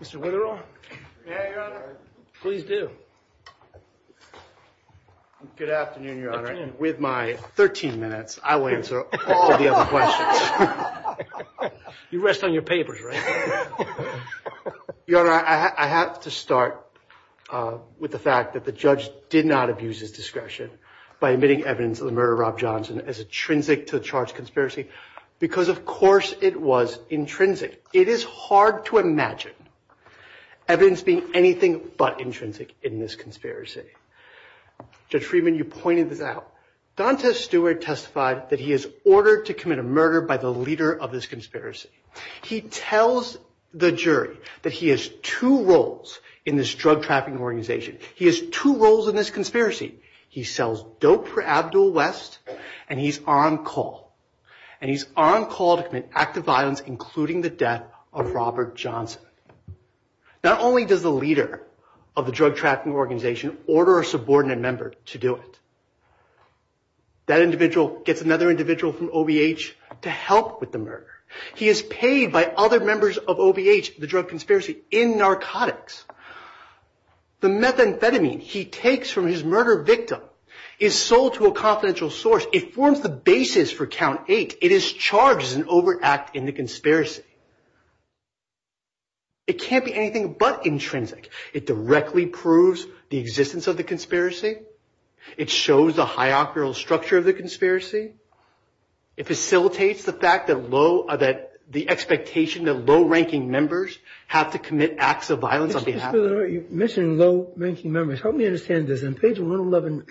Mr. Witterow? Yeah, Your Honor. Please do. Good afternoon, Your Honor. Afternoon. And with my 13 minutes, I will answer all of the other questions. You rest on your papers, right? Your Honor, I have to start with the fact that the judge did not abuse his discretion by admitting evidence of the murder of Rob Johnson as intrinsic to the charged conspiracy because, of course, it was intrinsic. It is hard to imagine evidence being anything but intrinsic in this conspiracy. Judge Friedman, you pointed this out. Dante Stewart testified that he is ordered to commit a murder by the leader of this conspiracy. He tells the jury that he has two roles in this drug trafficking organization. He has two roles in this conspiracy. He sells dope for Abdul West, and he's on call. And he's on call to commit active violence, including the death of Robert Johnson. Not only does the leader of the drug trafficking organization order a subordinate member to do it, that individual gets another individual from OVH to help with the murder. He is paid by other members of OVH, the drug conspiracy, in narcotics. The methamphetamine he takes from his murder victim is sold to a confidential source. It forms the basis for Count 8. It is charged as an overact in the conspiracy. It can't be anything but intrinsic. It directly proves the existence of the conspiracy. It shows the hierarchical structure of the conspiracy. It facilitates the fact that the expectation that low-ranking members have to commit acts of violence on behalf of them. You mentioned low-ranking members. Help me understand this. On page 111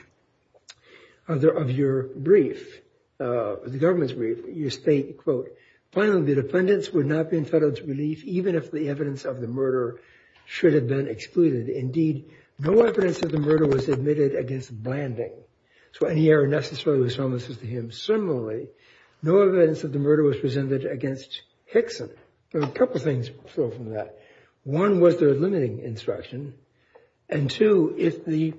of your brief, the government's brief, you state, quote, finally, the defendants would not be entitled to relief even if the evidence of the murder should have been excluded. Indeed, no evidence of the murder was admitted against Blanding. So any error necessarily was harmless to him. Similarly, no evidence of the murder was presented against Hickson. A couple of things flow from that. One was the limiting instruction. And two, if the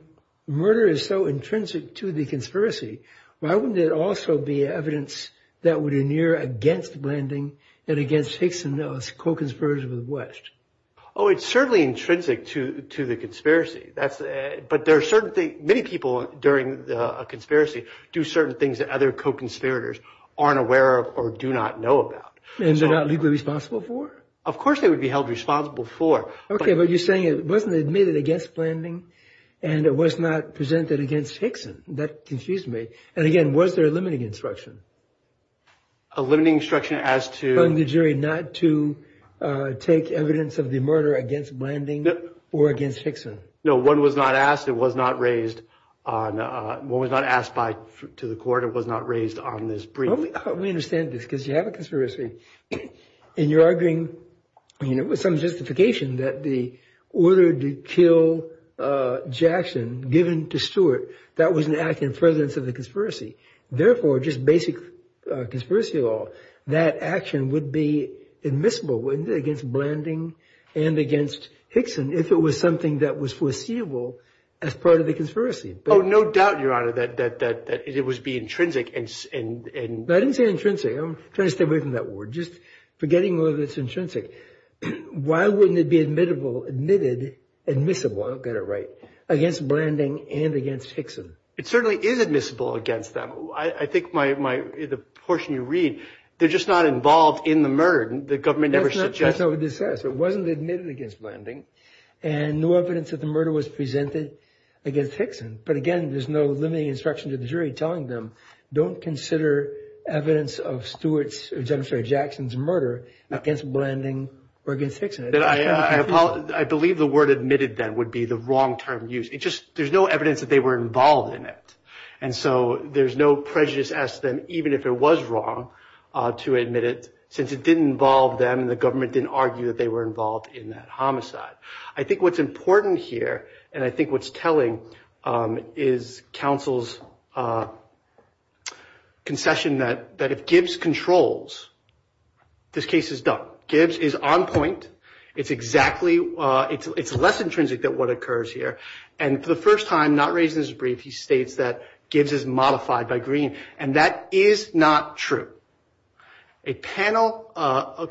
murder is so intrinsic to the conspiracy, why wouldn't it also be evidence that would adhere against Blanding and against Hickson, those co-conspirators of the West? Oh, it's certainly intrinsic to the conspiracy. But there are certain things – many people during a conspiracy do certain things that other co-conspirators aren't aware of or do not know about. And they're not legally responsible for? Of course they would be held responsible for. Okay, but you're saying it wasn't admitted against Blanding and it was not presented against Hickson. That confused me. And again, was there a limiting instruction? A limiting instruction as to – Telling the jury not to take evidence of the murder against Blanding or against Hickson. No, one was not asked. It was not raised on – one was not asked by – to the court. It was not raised on this brief. Help me understand this because you have a conspiracy. And you're arguing, you know, with some justification that the order to kill Jackson given to Stewart, that was an act in presence of the conspiracy. Therefore, just basic conspiracy law, that action would be admissible against Blanding and against Hickson if it was something that was foreseeable as part of the conspiracy. Oh, no doubt, Your Honor, that it would be intrinsic and – Just forgetting whether it's intrinsic. Why wouldn't it be admissible – I don't get it right – against Blanding and against Hickson? It certainly is admissible against them. I think my – the portion you read, they're just not involved in the murder. The government never suggests – That's not what this says. It wasn't admitted against Blanding. And no evidence that the murder was presented against Hickson. But, again, there's no limiting instruction to the jury telling them, don't consider evidence of Stewart's – or, I'm sorry, Jackson's murder against Blanding or against Hickson. I believe the word admitted then would be the wrong term used. It just – there's no evidence that they were involved in it. And so there's no prejudice as to them, even if it was wrong, to admit it since it didn't involve them and the government didn't argue that they were involved in that homicide. I think what's important here, and I think what's telling, is counsel's concession that if Gibbs controls, this case is done. Gibbs is on point. It's exactly – it's less intrinsic than what occurs here. And for the first time, not raised in this brief, he states that Gibbs is modified by Green. And that is not true. A panel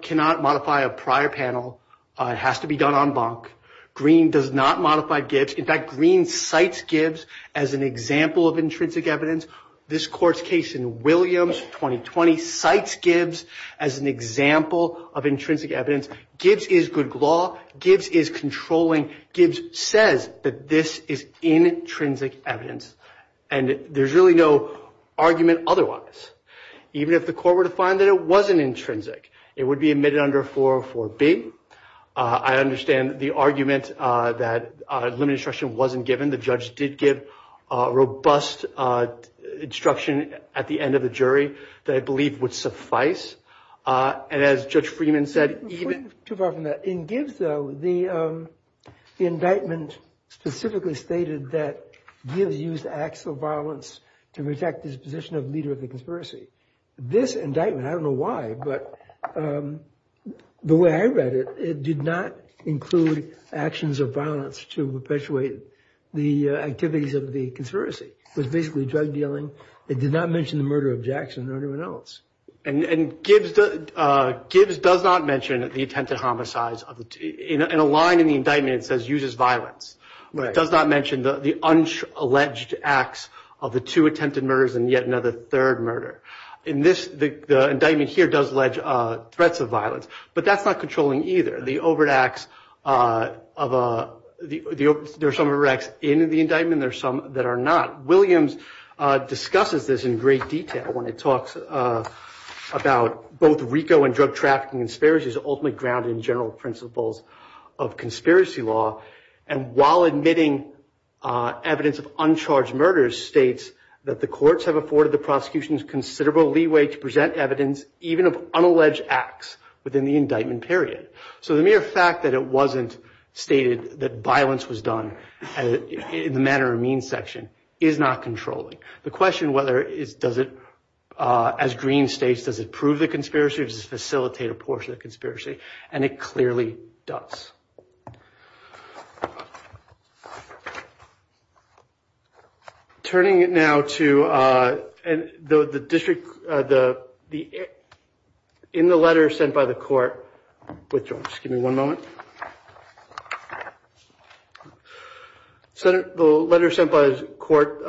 cannot modify a prior panel. It has to be done en banc. Green does not modify Gibbs. In fact, Green cites Gibbs as an example of intrinsic evidence. This Court's case in Williams, 2020, cites Gibbs as an example of intrinsic evidence. Gibbs is good law. Gibbs is controlling. Gibbs says that this is intrinsic evidence. And there's really no argument otherwise. Even if the court were to find that it wasn't intrinsic, it would be admitted under 404B. I understand the argument that limited instruction wasn't given. The judge did give robust instruction at the end of the jury that I believe would suffice. And as Judge Freeman said, even – Too far from that. In Gibbs, though, the indictment specifically stated that Gibbs used acts of violence to protect his position of leader of the conspiracy. This indictment, I don't know why, but the way I read it, it did not include actions of violence to perpetuate the activities of the conspiracy. It was basically drug dealing. It did not mention the murder of Jackson or anyone else. And Gibbs does not mention the attempted homicides. In a line in the indictment, it says uses violence. It does not mention the alleged acts of the two attempted murders and yet another third murder. In this, the indictment here does allege threats of violence. But that's not controlling either. The overt acts of – there are some overt acts in the indictment and there are some that are not. Williams discusses this in great detail when he talks about both RICO and drug trafficking conspiracies ultimately grounded in general principles of conspiracy law. And while admitting evidence of uncharged murders, states that the courts have afforded the prosecutions considerable leeway to present evidence, even of unalleged acts within the indictment period. So the mere fact that it wasn't stated that violence was done in the manner of mean section is not controlling. The question whether it's – does it – as Green states, does it prove the conspiracy or does it facilitate a portion of the conspiracy? And it clearly does. Turning it now to the district – in the letter sent by the court – just give me one moment. The letter sent by the court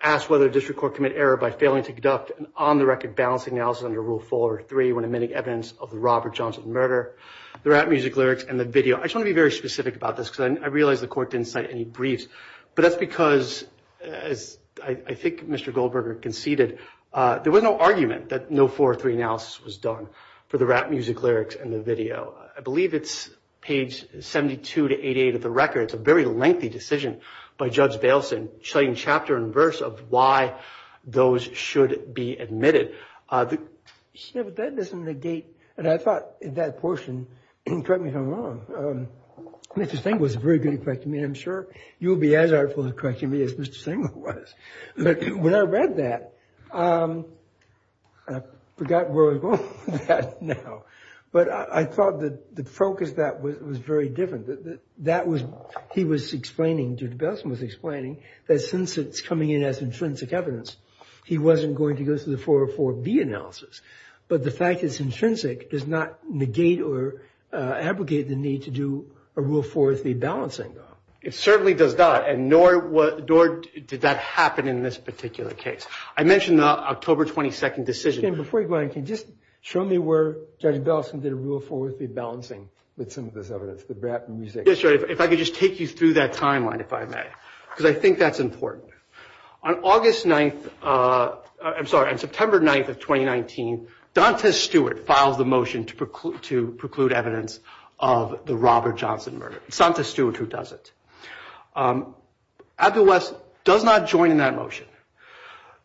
asks whether the district court committed error by failing to conduct an on-the-record balancing analysis under Rule 4 or 3 when admitting evidence of the Robert Johnson murder, the rap music lyrics, and the video. I just want to be very specific about this because I realize the court didn't cite any briefs. But that's because, as I think Mr. Goldberger conceded, there was no argument that no 4 or 3 analysis was done for the rap music lyrics and the video. I believe it's page 72 to 88 of the record. It's a very lengthy decision by Judge Bailson, citing chapter and verse of why those should be admitted. Yeah, but that doesn't negate – and I thought that portion – correct me if I'm wrong. Mr. Stengel was very good at correcting me, and I'm sure you'll be as artful at correcting me as Mr. Stengel was. But when I read that, I forgot where I was going with that now. But I thought the focus of that was very different. That was – he was explaining, Judge Bailson was explaining, that since it's coming in as intrinsic evidence, he wasn't going to go through the 4 or 4B analysis. But the fact it's intrinsic does not negate or abrogate the need to do a rule 4 with the balancing, though. It certainly does not, and nor did that happen in this particular case. I mentioned the October 22 decision. Mr. Stengel, before you go on, can you just show me where Judge Bailson did a rule 4 with the balancing with some of this evidence, the rap music? If I could just take you through that timeline, if I may, because I think that's important. On August 9th – I'm sorry, on September 9th of 2019, Donta Stewart files the motion to preclude evidence of the Robert Johnson murder. It's Donta Stewart who does it. Abdul West does not join in that motion.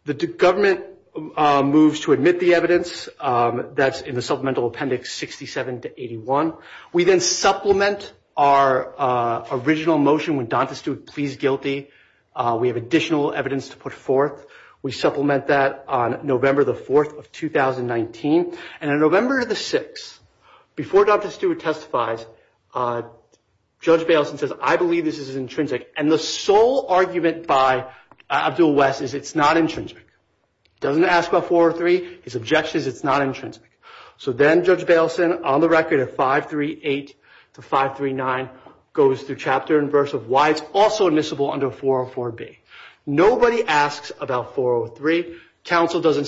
The government moves to admit the evidence. That's in the Supplemental Appendix 67 to 81. We then supplement our original motion when Donta Stewart pleads guilty. We have additional evidence to put forth. We supplement that on November 4th of 2019. And on November 6th, before Donta Stewart testifies, Judge Bailson says, I believe this is intrinsic. And the sole argument by Abdul West is it's not intrinsic. He doesn't ask about 4 or 3. His objection is it's not intrinsic. So then Judge Bailson, on the record of 538 to 539, goes through chapter and verse of why it's also admissible under 404B. Nobody asks about 403. Counsel does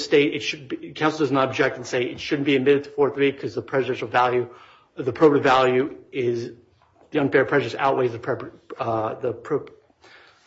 not object and say it shouldn't be admitted to 403 because the presidential value, the appropriate value is, the unfair prejudice outweighs the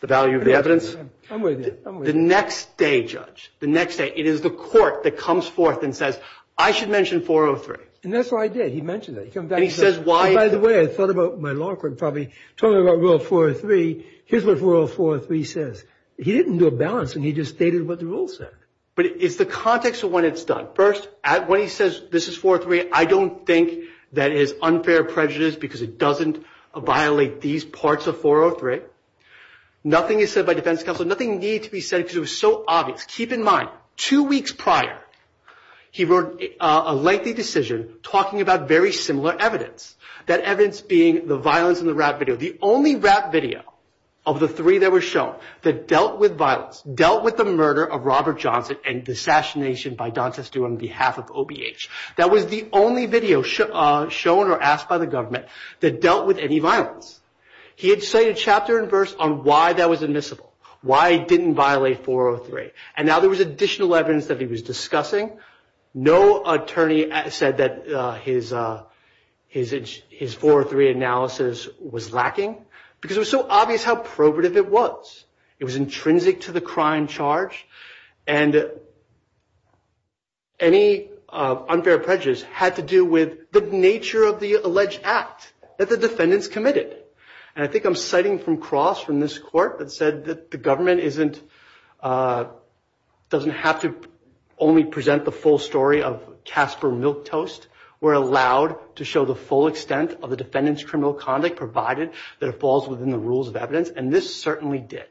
value of the evidence. The next day, Judge, the next day, it is the court that comes forth and says, I should mention 403. And that's what I did. He mentioned it. And he says why. By the way, I thought about my law court probably talking about Rule 403. Here's what Rule 403 says. He didn't do a balance and he just stated what the rule said. But it's the context of when it's done. First, when he says this is 403, I don't think that is unfair prejudice because it doesn't violate these parts of 403. Nothing is said by defense counsel. Nothing needed to be said because it was so obvious. Keep in mind, two weeks prior, he wrote a lengthy decision talking about very similar evidence. That evidence being the violence in the rap video, the only rap video of the three that were shown that dealt with violence, dealt with the murder of Robert Johnson and the assassination by Don Testu on behalf of OBH. That was the only video shown or asked by the government that dealt with any violence. He had cited chapter and verse on why that was admissible, why he didn't violate 403. And now there was additional evidence that he was discussing. No attorney said that his 403 analysis was lacking because it was so obvious how probative it was. It was intrinsic to the crime charge. And any unfair prejudice had to do with the nature of the alleged act that the defendants committed. And I think I'm citing from cross from this court that said that the government doesn't have to only present the full story of Casper Milk Toast. We're allowed to show the full extent of the defendant's criminal conduct, provided that it falls within the rules of evidence. And this certainly did.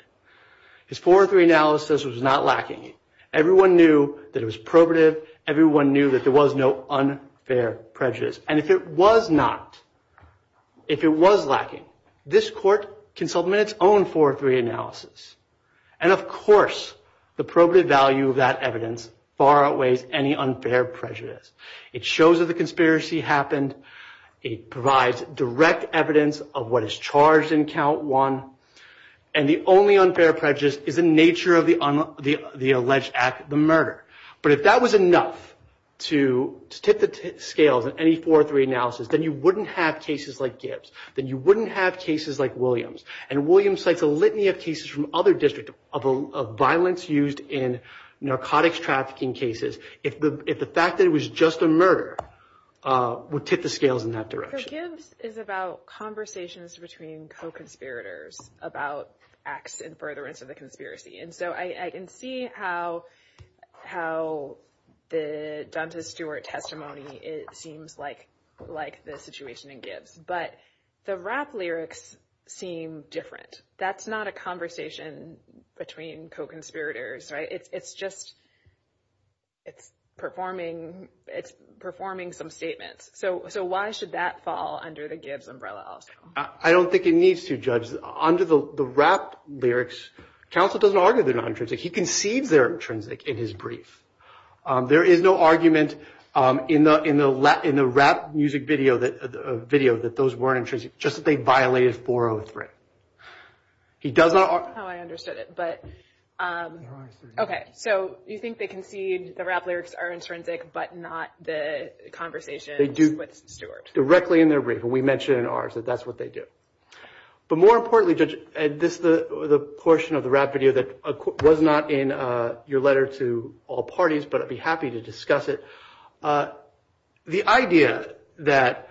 His 403 analysis was not lacking. Everyone knew that it was probative. Everyone knew that there was no unfair prejudice. And if it was not, if it was lacking, this court can submit its own 403 analysis. And, of course, the probative value of that evidence far outweighs any unfair prejudice. It shows that the conspiracy happened. It provides direct evidence of what is charged in count one. And the only unfair prejudice is the nature of the alleged act, the murder. But if that was enough to tip the scales in any 403 analysis, then you wouldn't have cases like Gibbs. Then you wouldn't have cases like Williams. And Williams cites a litany of cases from other districts of violence used in narcotics trafficking cases. If the fact that it was just a murder would tip the scales in that direction. So Gibbs is about conversations between co-conspirators about acts in furtherance of the conspiracy. And so I can see how the Duntas Stewart testimony seems like the situation in Gibbs. But the rap lyrics seem different. That's not a conversation between co-conspirators. It's just it's performing some statements. So why should that fall under the Gibbs umbrella also? I don't think it needs to, Judge. Under the rap lyrics, counsel doesn't argue they're not intrinsic. He conceives they're intrinsic in his brief. There is no argument in the rap music video that those weren't intrinsic, just that they violated 403. I don't know how I understood it. OK. So you think they concede the rap lyrics are intrinsic, but not the conversation with Stewart. Directly in their brief. And we mentioned in ours that that's what they do. But more importantly, Judge, this is the portion of the rap video that was not in your letter to all parties, but I'd be happy to discuss it. The idea that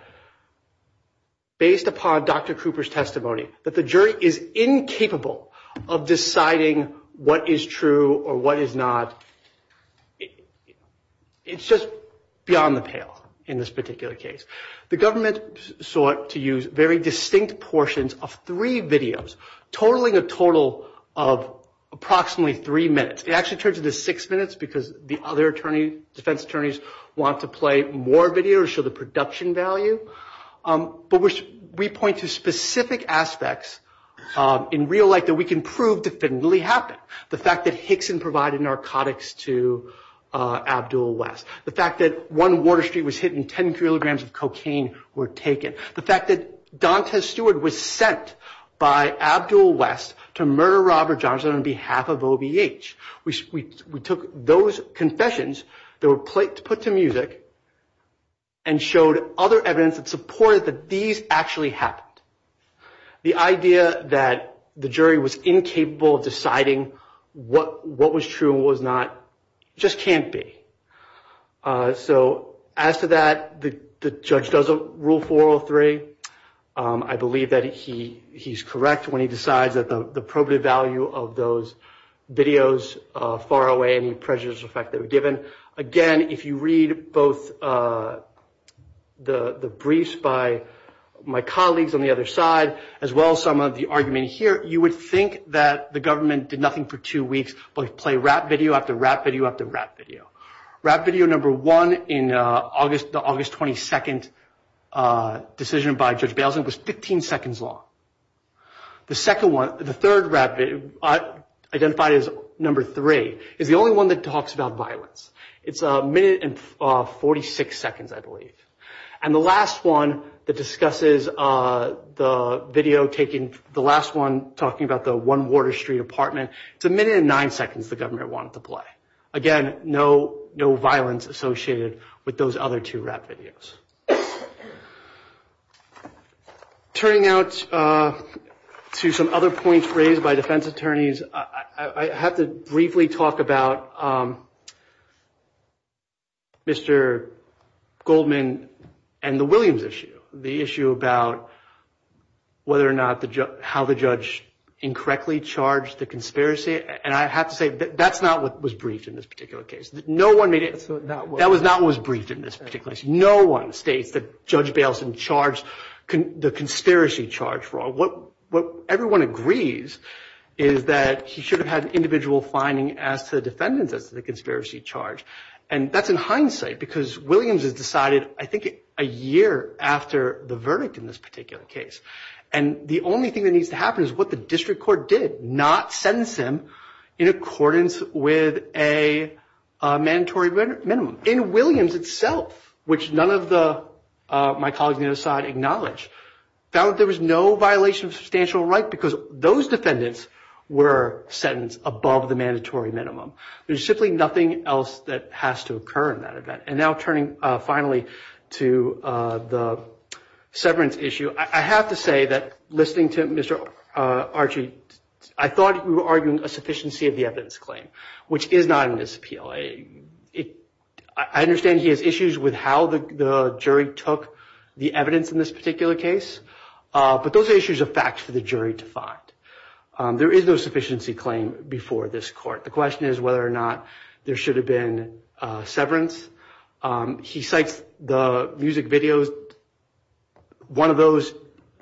based upon Dr. Cooper's testimony, that the jury is incapable of deciding what is true or what is not, it's just beyond the pale in this particular case. The government sought to use very distinct portions of three videos, totaling a total of approximately three minutes. It actually turns into six minutes because the other defense attorneys want to play more videos to show the production value. But we point to specific aspects in real life that we can prove definitively happened. The fact that Hickson provided narcotics to Abdul West. The fact that one Water Street was hit and 10 kilograms of cocaine were taken. The fact that Dontez Stewart was sent by Abdul West to murder Robert Johnson on behalf of OVH. We took those confessions that were put to music and showed other evidence that supported that these actually happened. The idea that the jury was incapable of deciding what was true and what was not just can't be. So as to that, the judge doesn't rule 403. I believe that he's correct when he decides that the probative value of those videos far away any prejudiced effect they were given. Again, if you read both the briefs by my colleagues on the other side, as well as some of the argument here, you would think that the government did nothing for two weeks but play rap video after rap video after rap video. Rap video number one in the August 22nd decision by Judge Bailenson was 15 seconds long. The third rap video, identified as number three, is the only one that talks about violence. It's a minute and 46 seconds, I believe. And the last one that discusses the video taken, the last one talking about the One Water Street apartment, it's a minute and nine seconds the government wanted to play. Again, no violence associated with those other two rap videos. Turning out to some other points raised by defense attorneys, I have to briefly talk about Mr. Goldman and the Williams issue, the issue about whether or not how the judge incorrectly charged the conspiracy. And I have to say that that's not what was briefed in this particular case. No one made it. That was not what was briefed in this particular case. No one states that Judge Bailenson charged the conspiracy charge wrong. What everyone agrees is that he should have had an individual finding as to the defendants as to the conspiracy charge. And that's in hindsight because Williams has decided, I think, a year after the verdict in this particular case. And the only thing that needs to happen is what the district court did, not sentence him in accordance with a mandatory minimum. In Williams itself, which none of my colleagues on the other side acknowledge, found that there was no violation of substantial right because those defendants were sentenced above the mandatory minimum. There's simply nothing else that has to occur in that event. And now turning finally to the severance issue, I have to say that listening to Mr. Archie, I thought you were arguing a sufficiency of the evidence claim, which is not in this appeal. I understand he has issues with how the jury took the evidence in this particular case. But those issues are facts for the jury to find. There is no sufficiency claim before this court. The question is whether or not there should have been severance. He cites the music videos. One of those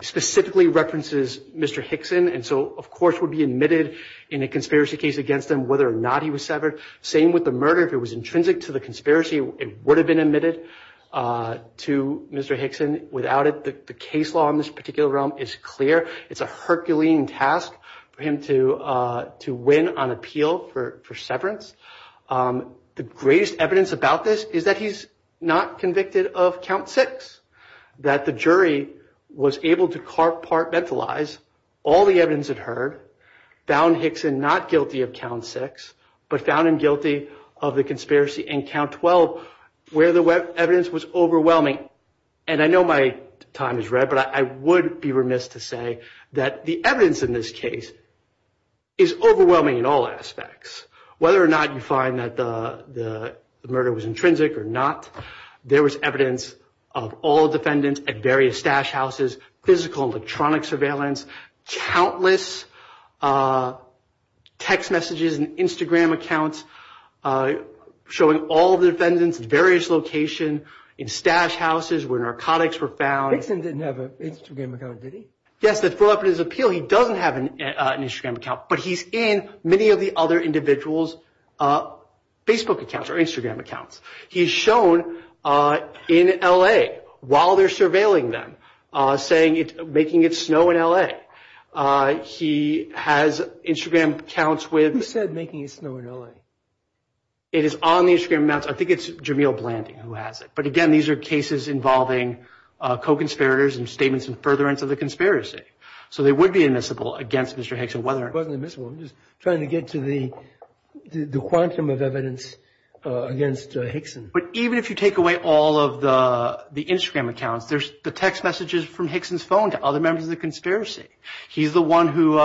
specifically references Mr. Hickson. And so, of course, would be admitted in a conspiracy case against him whether or not he was severed. Same with the murder. If it was intrinsic to the conspiracy, it would have been admitted to Mr. Hickson. Without it, the case law in this particular realm is clear. It's a Herculean task for him to win on appeal for severance. The greatest evidence about this is that he's not convicted of count six, that the jury was able to compartmentalize all the evidence it heard, found Hickson not guilty of count six, but found him guilty of the conspiracy in count 12, where the evidence was overwhelming. And I know my time is red, but I would be remiss to say that the evidence in this case is overwhelming in all aspects. Whether or not you find that the murder was intrinsic or not, there was evidence of all defendants at various stash houses, physical and electronic surveillance, countless text messages and Instagram accounts showing all the defendants at various locations, in stash houses where narcotics were found. Hickson didn't have an Instagram account, did he? Yes, that followed up in his appeal, he doesn't have an Instagram account, but he's in many of the other individuals' Facebook accounts or Instagram accounts. He's shown in L.A. while they're surveilling them, making it snow in L.A. He has Instagram accounts with- Who said making it snow in L.A.? It is on the Instagram accounts. I think it's Jameel Blanding who has it. But again, these are cases involving co-conspirators and statements in furtherance of the conspiracy. So they would be admissible against Mr. Hickson. It wasn't admissible, I'm just trying to get to the quantum of evidence against Hickson. But even if you take away all of the Instagram accounts, there's the text messages from Hickson's phone to other members of the conspiracy. He's the one who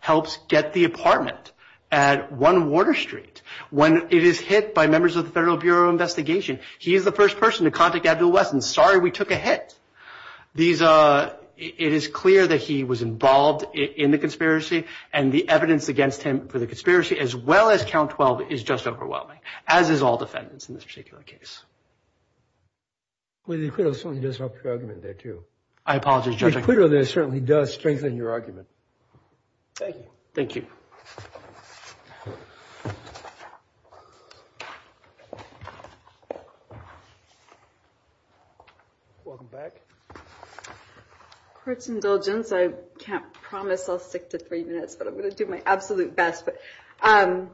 helps get the apartment at 1 Water Street. When it is hit by members of the Federal Bureau of Investigation, he's the first person to contact Abdul-Wesson, sorry we took a hit. It is clear that he was involved in the conspiracy, and the evidence against him for the conspiracy as well as Count 12 is just overwhelming, as is all defendants in this particular case. Well, the acquittal certainly does help your argument there too. I apologize, Judge. The acquittal there certainly does strengthen your argument. Thank you. Thank you. Welcome back. Courts indulgence, I can't promise I'll stick to three minutes, but I'm going to do my absolute best. I'll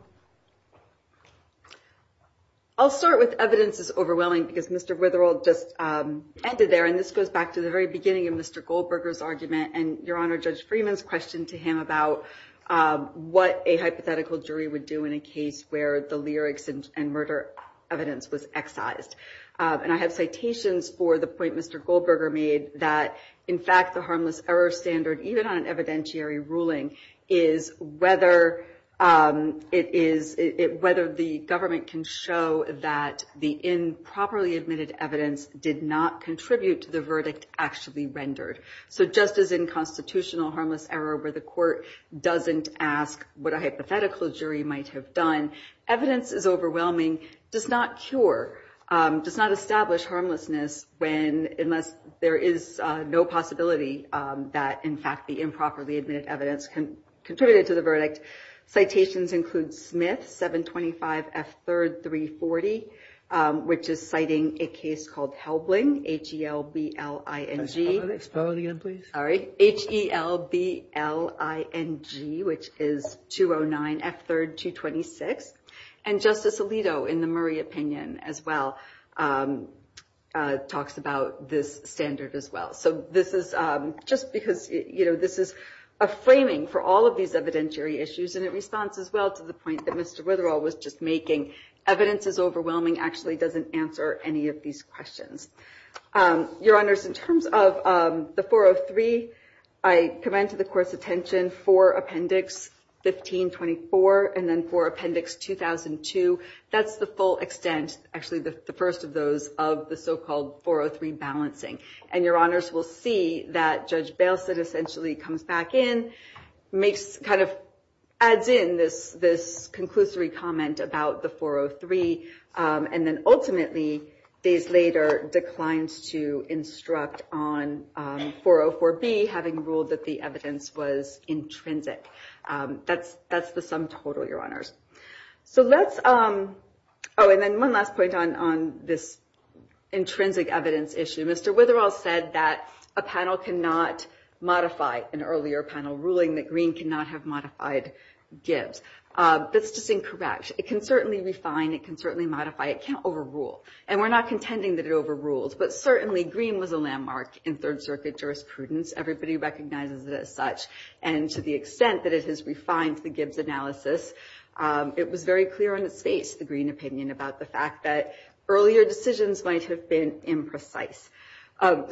start with evidence is overwhelming because Mr. Witherell just ended there, and this goes back to the very beginning of Mr. Goldberger's argument and your Honor, Judge Freeman's question to him about what a hypothetical jury would do in a case where the lyrics and murder evidence was excised. And I have citations for the point Mr. Goldberger made that, in fact, the harmless error standard, even on an evidentiary ruling, is whether the government can show that the improperly admitted evidence did not contribute to the verdict actually rendered. So just as in constitutional harmless error where the court doesn't ask what a hypothetical jury might have done, evidence is overwhelming, does not cure, does not establish harmlessness unless there is no possibility that, in fact, the improperly admitted evidence contributed to the verdict. Citations include Smith, 725F330, which is citing a case called Helbling, H-E-L-B-L-I-N-G. Can you spell it again, please? Sorry. H-E-L-B-L-I-N-G, which is 209F3226. And Justice Alito, in the Murray opinion as well, talks about this standard as well. So this is just because, you know, this is a framing for all of these evidentiary issues, and it responds as well to the point that Mr. Witherell was just making. Evidence is overwhelming actually doesn't answer any of these questions. Your Honors, in terms of the 403, I commend to the Court's attention for Appendix 1524 and then for Appendix 2002. That's the full extent, actually the first of those, of the so-called 403 balancing. And Your Honors will see that Judge Bailissette essentially comes back in, kind of adds in this conclusory comment about the 403, and then ultimately, days later, declines to instruct on 404B, having ruled that the evidence was intrinsic. That's the sum total, Your Honors. So let's – oh, and then one last point on this intrinsic evidence issue. Mr. Witherell said that a panel cannot modify an earlier panel ruling that Green cannot have modified Gibbs. That's just incorrect. It can certainly refine. It can certainly modify. It can't overrule. And we're not contending that it overruled, but certainly Green was a landmark in Third Circuit jurisprudence. Everybody recognizes it as such, and to the extent that it has refined the Gibbs analysis, it was very clear on its face, the Green opinion, about the fact that earlier decisions might have been imprecise.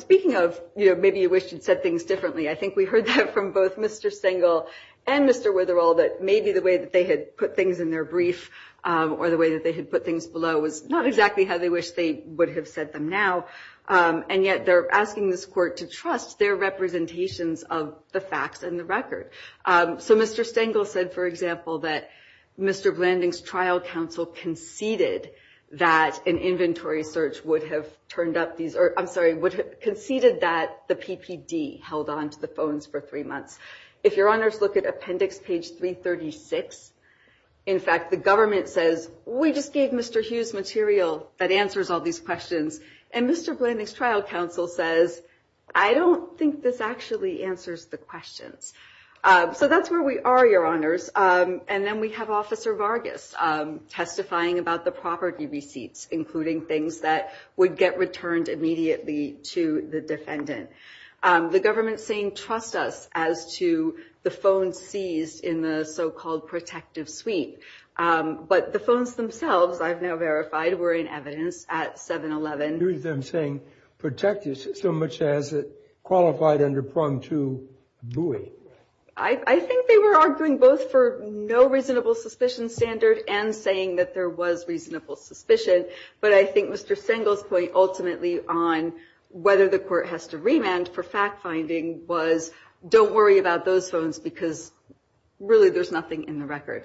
Speaking of, you know, maybe you wish you'd said things differently, I think we heard that from both Mr. Stengel and Mr. Witherell, that maybe the way that they had put things in their brief or the way that they had put things below was not exactly how they wished they would have said them now, and yet they're asking this Court to trust their representations of the facts and the record. So Mr. Stengel said, for example, that Mr. Blanding's trial counsel conceded that an inventory search would have turned up these – I'm sorry, conceded that the PPD held onto the phones for three months. If Your Honors look at Appendix Page 336, in fact, the government says, we just gave Mr. Hughes material that answers all these questions, and Mr. Blanding's trial counsel says, I don't think this actually answers the questions. So that's where we are, Your Honors. And then we have Officer Vargas testifying about the property receipts, including things that would get returned immediately to the defendant. The government's saying, trust us, as to the phone seized in the so-called protective suite. But the phones themselves, I've now verified, were in evidence at 7-Eleven. You hear them saying protective suite, so much as it qualified under Prong to buoy. I think they were arguing both for no reasonable suspicion standard and saying that there was reasonable suspicion. But I think Mr. Stengel's point ultimately on whether the court has to remand for fact-finding was, don't worry about those phones because really there's nothing in the record.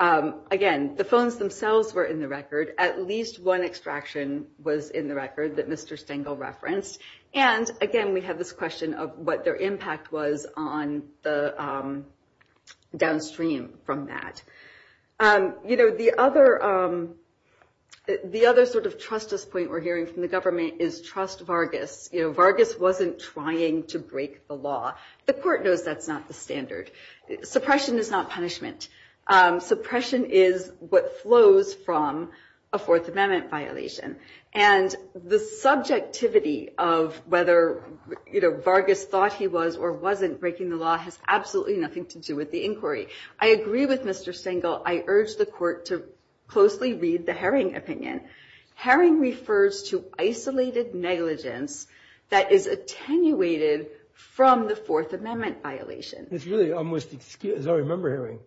Again, the phones themselves were in the record. At least one extraction was in the record that Mr. Stengel referenced. And again, we have this question of what their impact was downstream from that. The other sort of trust us point we're hearing from the government is trust Vargas. Vargas wasn't trying to break the law. The court knows that's not the standard. Suppression is not punishment. Suppression is what flows from a Fourth Amendment violation. And the subjectivity of whether Vargas thought he was or wasn't breaking the law has absolutely nothing to do with the inquiry. I agree with Mr. Stengel. I urge the court to closely read the Herring opinion. Herring refers to isolated negligence that is attenuated from the Fourth Amendment violation. It's really almost, as I remember Herring,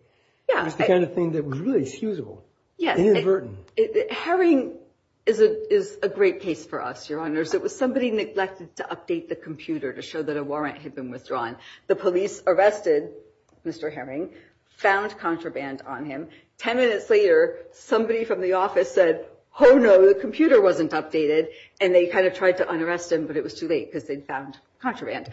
it's the kind of thing that was really excusable, inadvertent. Herring is a great case for us, Your Honors. It was somebody neglected to update the computer to show that a warrant had been withdrawn. The police arrested Mr. Herring, found contraband on him. Ten minutes later, somebody from the office said, oh no, the computer wasn't updated. And they kind of tried to un-arrest him, but it was too late because they'd found contraband.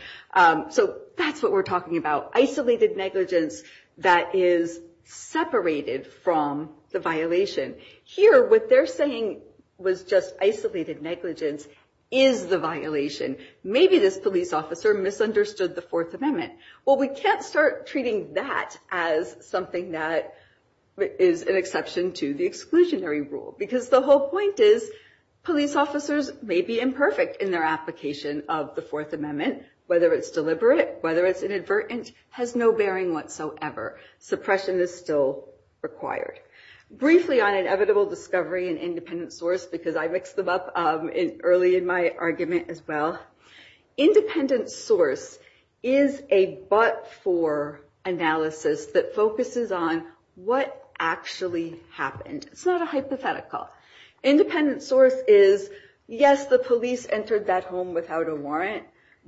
So that's what we're talking about, isolated negligence that is separated from the violation. Here, what they're saying was just isolated negligence is the violation. Maybe this police officer misunderstood the Fourth Amendment. Well, we can't start treating that as something that is an exception to the exclusionary rule. Because the whole point is, police officers may be imperfect in their application of the Fourth Amendment, whether it's deliberate, whether it's inadvertent, has no bearing whatsoever. Suppression is still required. Briefly on inevitable discovery and independent source, because I mixed them up early in my argument as well. Independent source is a but-for analysis that focuses on what actually happened. It's not a hypothetical. Independent source is, yes, the police entered that home without a warrant,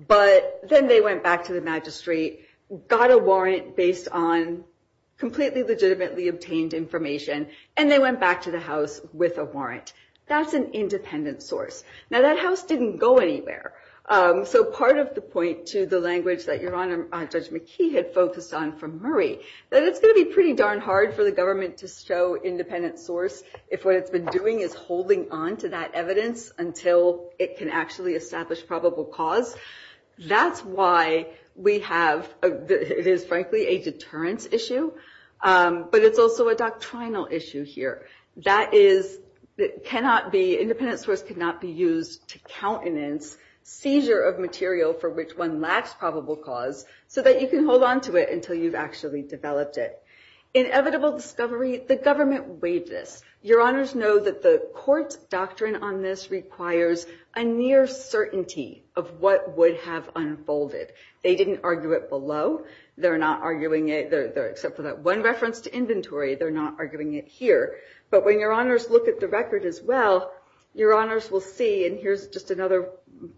but then they went back to the magistrate, got a warrant based on completely legitimately obtained information, and they went back to the house with a warrant. That's an independent source. Now, that house didn't go anywhere. So part of the point to the language that Your Honor Judge McKee had focused on from Murray, that it's going to be pretty darn hard for the government to show independent source if what it's been doing is holding on to that evidence until it can actually establish probable cause. That's why we have, it is frankly a deterrence issue, but it's also a doctrinal issue here. That is, it cannot be, independent source cannot be used to countenance seizure of material for which one lacks probable cause so that you can hold on to it until you've actually developed it. Inevitable discovery, the government waived this. Your Honors know that the court doctrine on this requires a near certainty of what would have unfolded. They didn't argue it below. They're not arguing it, except for that one reference to inventory, they're not arguing it here. But when Your Honors look at the record as well, Your Honors will see, and here's just another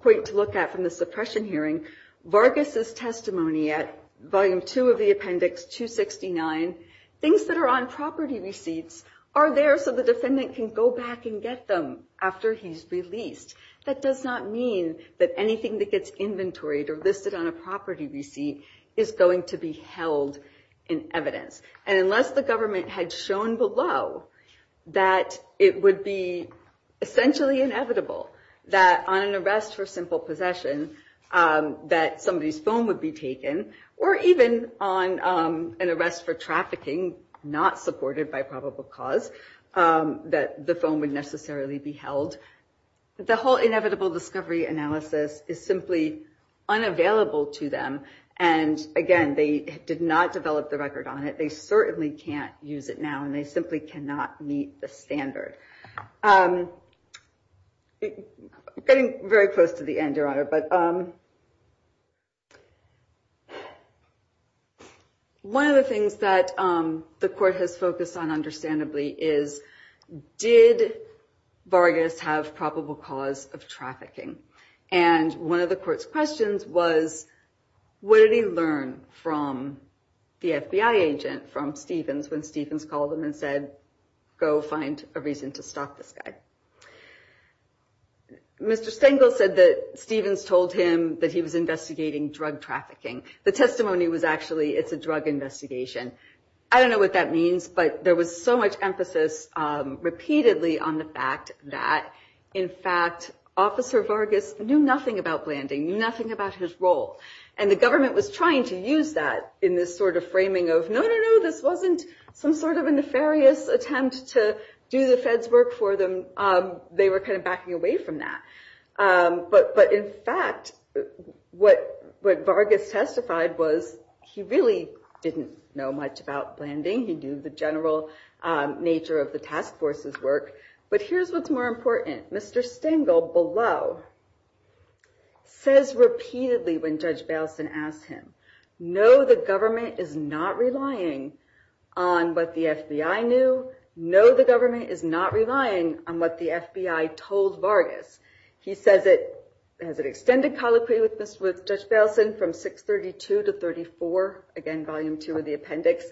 point to look at from the suppression hearing, Vargas' testimony at Volume 2 of the Appendix 269, things that are on property receipts are there so the defendant can go back and get them after he's released. That does not mean that anything that gets inventoried or listed on a property receipt is going to be held in evidence. And unless the government had shown below that it would be essentially inevitable that on an arrest for simple possession that somebody's phone would be taken, or even on an arrest for trafficking not supported by probable cause, that the phone would necessarily be held, the whole inevitable discovery analysis is simply unavailable to them. And again, they did not develop the record on it. They certainly can't use it now, and they simply cannot meet the standard. Getting very close to the end, Your Honor, but one of the things that the court has focused on understandably is, did Vargas have probable cause of trafficking? And one of the court's questions was, what did he learn from the FBI agent, from Stevens, when Stevens called him and said, go find a reason to stop this guy? Mr. Stengel said that Stevens told him that he was investigating drug trafficking. The testimony was actually, it's a drug investigation. I don't know what that means, but there was so much emphasis repeatedly on the fact that, in fact, Officer Vargas knew nothing about Blanding, knew nothing about his role. And the government was trying to use that in this sort of framing of, no, no, no, this wasn't some sort of a nefarious attempt to do the Fed's work for them. They were kind of backing away from that. But in fact, what Vargas testified was, he really didn't know much about Blanding. He knew the general nature of the task force's work. But here's what's more important. Mr. Stengel below says repeatedly, when Judge Baleson asked him, no, the government is not relying on what the FBI knew. No, the government is not relying on what the FBI told Vargas. He says it, has an extended colloquy with Judge Baleson from 632 to 34, again, volume two of the appendix,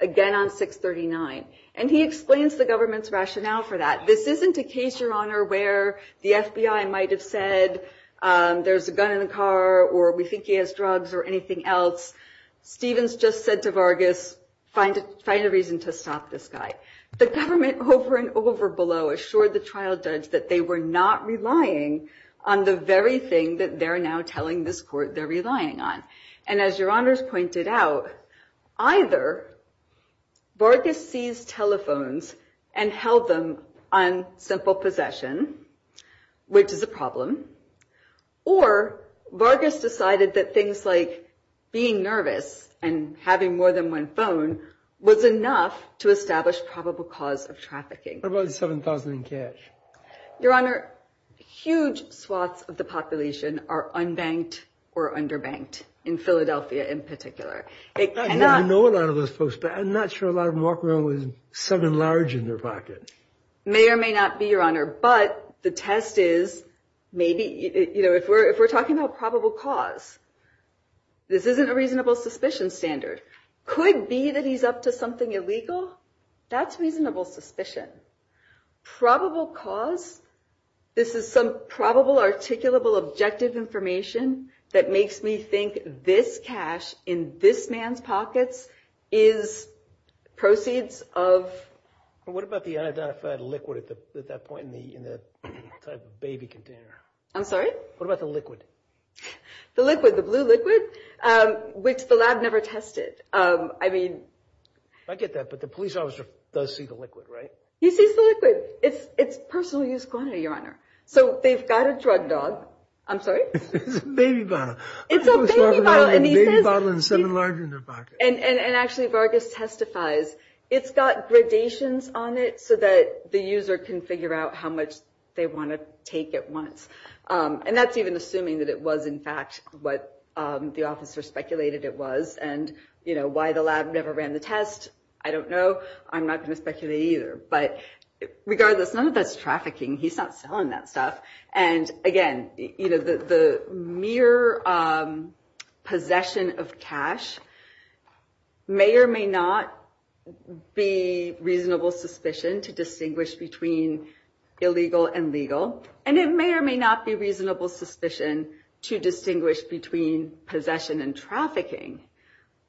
again on 639. And he explains the government's rationale for that. This isn't a case, Your Honor, where the FBI might have said, there's a gun in the car or we think he has drugs or anything else. Stevens just said to Vargas, find a reason to stop this guy. The government over and over below assured the trial judge that they were not relying on the very thing that they're now telling this court they're relying on. And as Your Honors pointed out, either Vargas seized telephones and held them on simple possession, which is a problem. Or Vargas decided that things like being nervous and having more than one phone was enough to establish probable cause of trafficking. What about the 7,000 in cash? Your Honor, huge swaths of the population are unbanked or underbanked, in Philadelphia in particular. I know a lot of those folks, but I'm not sure a lot of them walk around with seven large in their pocket. May or may not be, Your Honor. But the test is, if we're talking about probable cause, this isn't a reasonable suspicion standard. Could be that he's up to something illegal. That's reasonable suspicion. Probable cause, this is some probable articulable objective information that makes me think this cash in this man's pockets is proceeds of... What about the unidentified liquid at that point in the baby container? I'm sorry? What about the liquid? The liquid, the blue liquid, which the lab never tested. I mean... I get that, but the police officer does see the liquid, right? He sees the liquid. It's personal use quantity, Your Honor. So they've got a drug dog. I'm sorry? It's a baby bottle. It's a baby bottle, and he says... A baby bottle and seven large in their pocket. And actually Vargas testifies. It's got gradations on it so that the user can figure out how much they want to take at once. And that's even assuming that it was in fact what the officer speculated it was. And, you know, why the lab never ran the test, I don't know. I'm not going to speculate either. But regardless, none of that's trafficking. He's not selling that stuff. And, again, the mere possession of cash may or may not be reasonable suspicion to distinguish between illegal and legal. And it may or may not be reasonable suspicion to distinguish between possession and trafficking.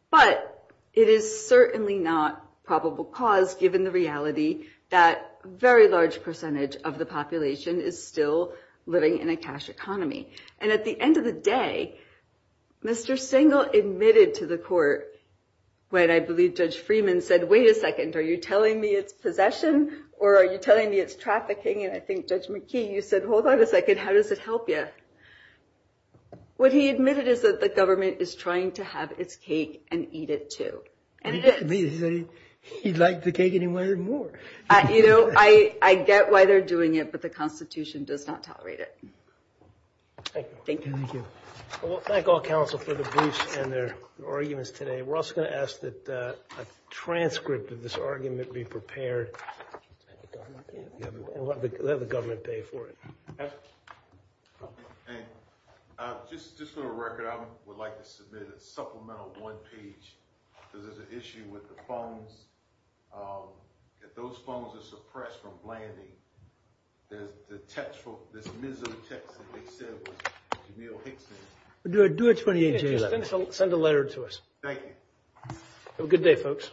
But it is certainly not probable cause given the reality that a very large percentage of the population is still living in a cash economy. And at the end of the day, Mr. Singel admitted to the court, when I believe Judge Freeman said, wait a second, are you telling me it's possession or are you telling me it's trafficking? And I think, Judge McKee, you said, hold on a second, how does it help you? What he admitted is that the government is trying to have its cake and eat it, too. He didn't admit it. He said he'd like the cake any way or more. You know, I get why they're doing it, but the Constitution does not tolerate it. Thank you. Thank you. Well, thank all counsel for the briefs and their arguments today. We're also going to ask that a transcript of this argument be prepared and let the government pay for it. And just for the record, I would like to submit a supplemental one page. Because there's an issue with the phones. If those phones are suppressed from landing, there's the text, this miserable text that they said was Jamil Hickson. Do it 28-11. Send a letter to us. Thank you. Have a good day, folks.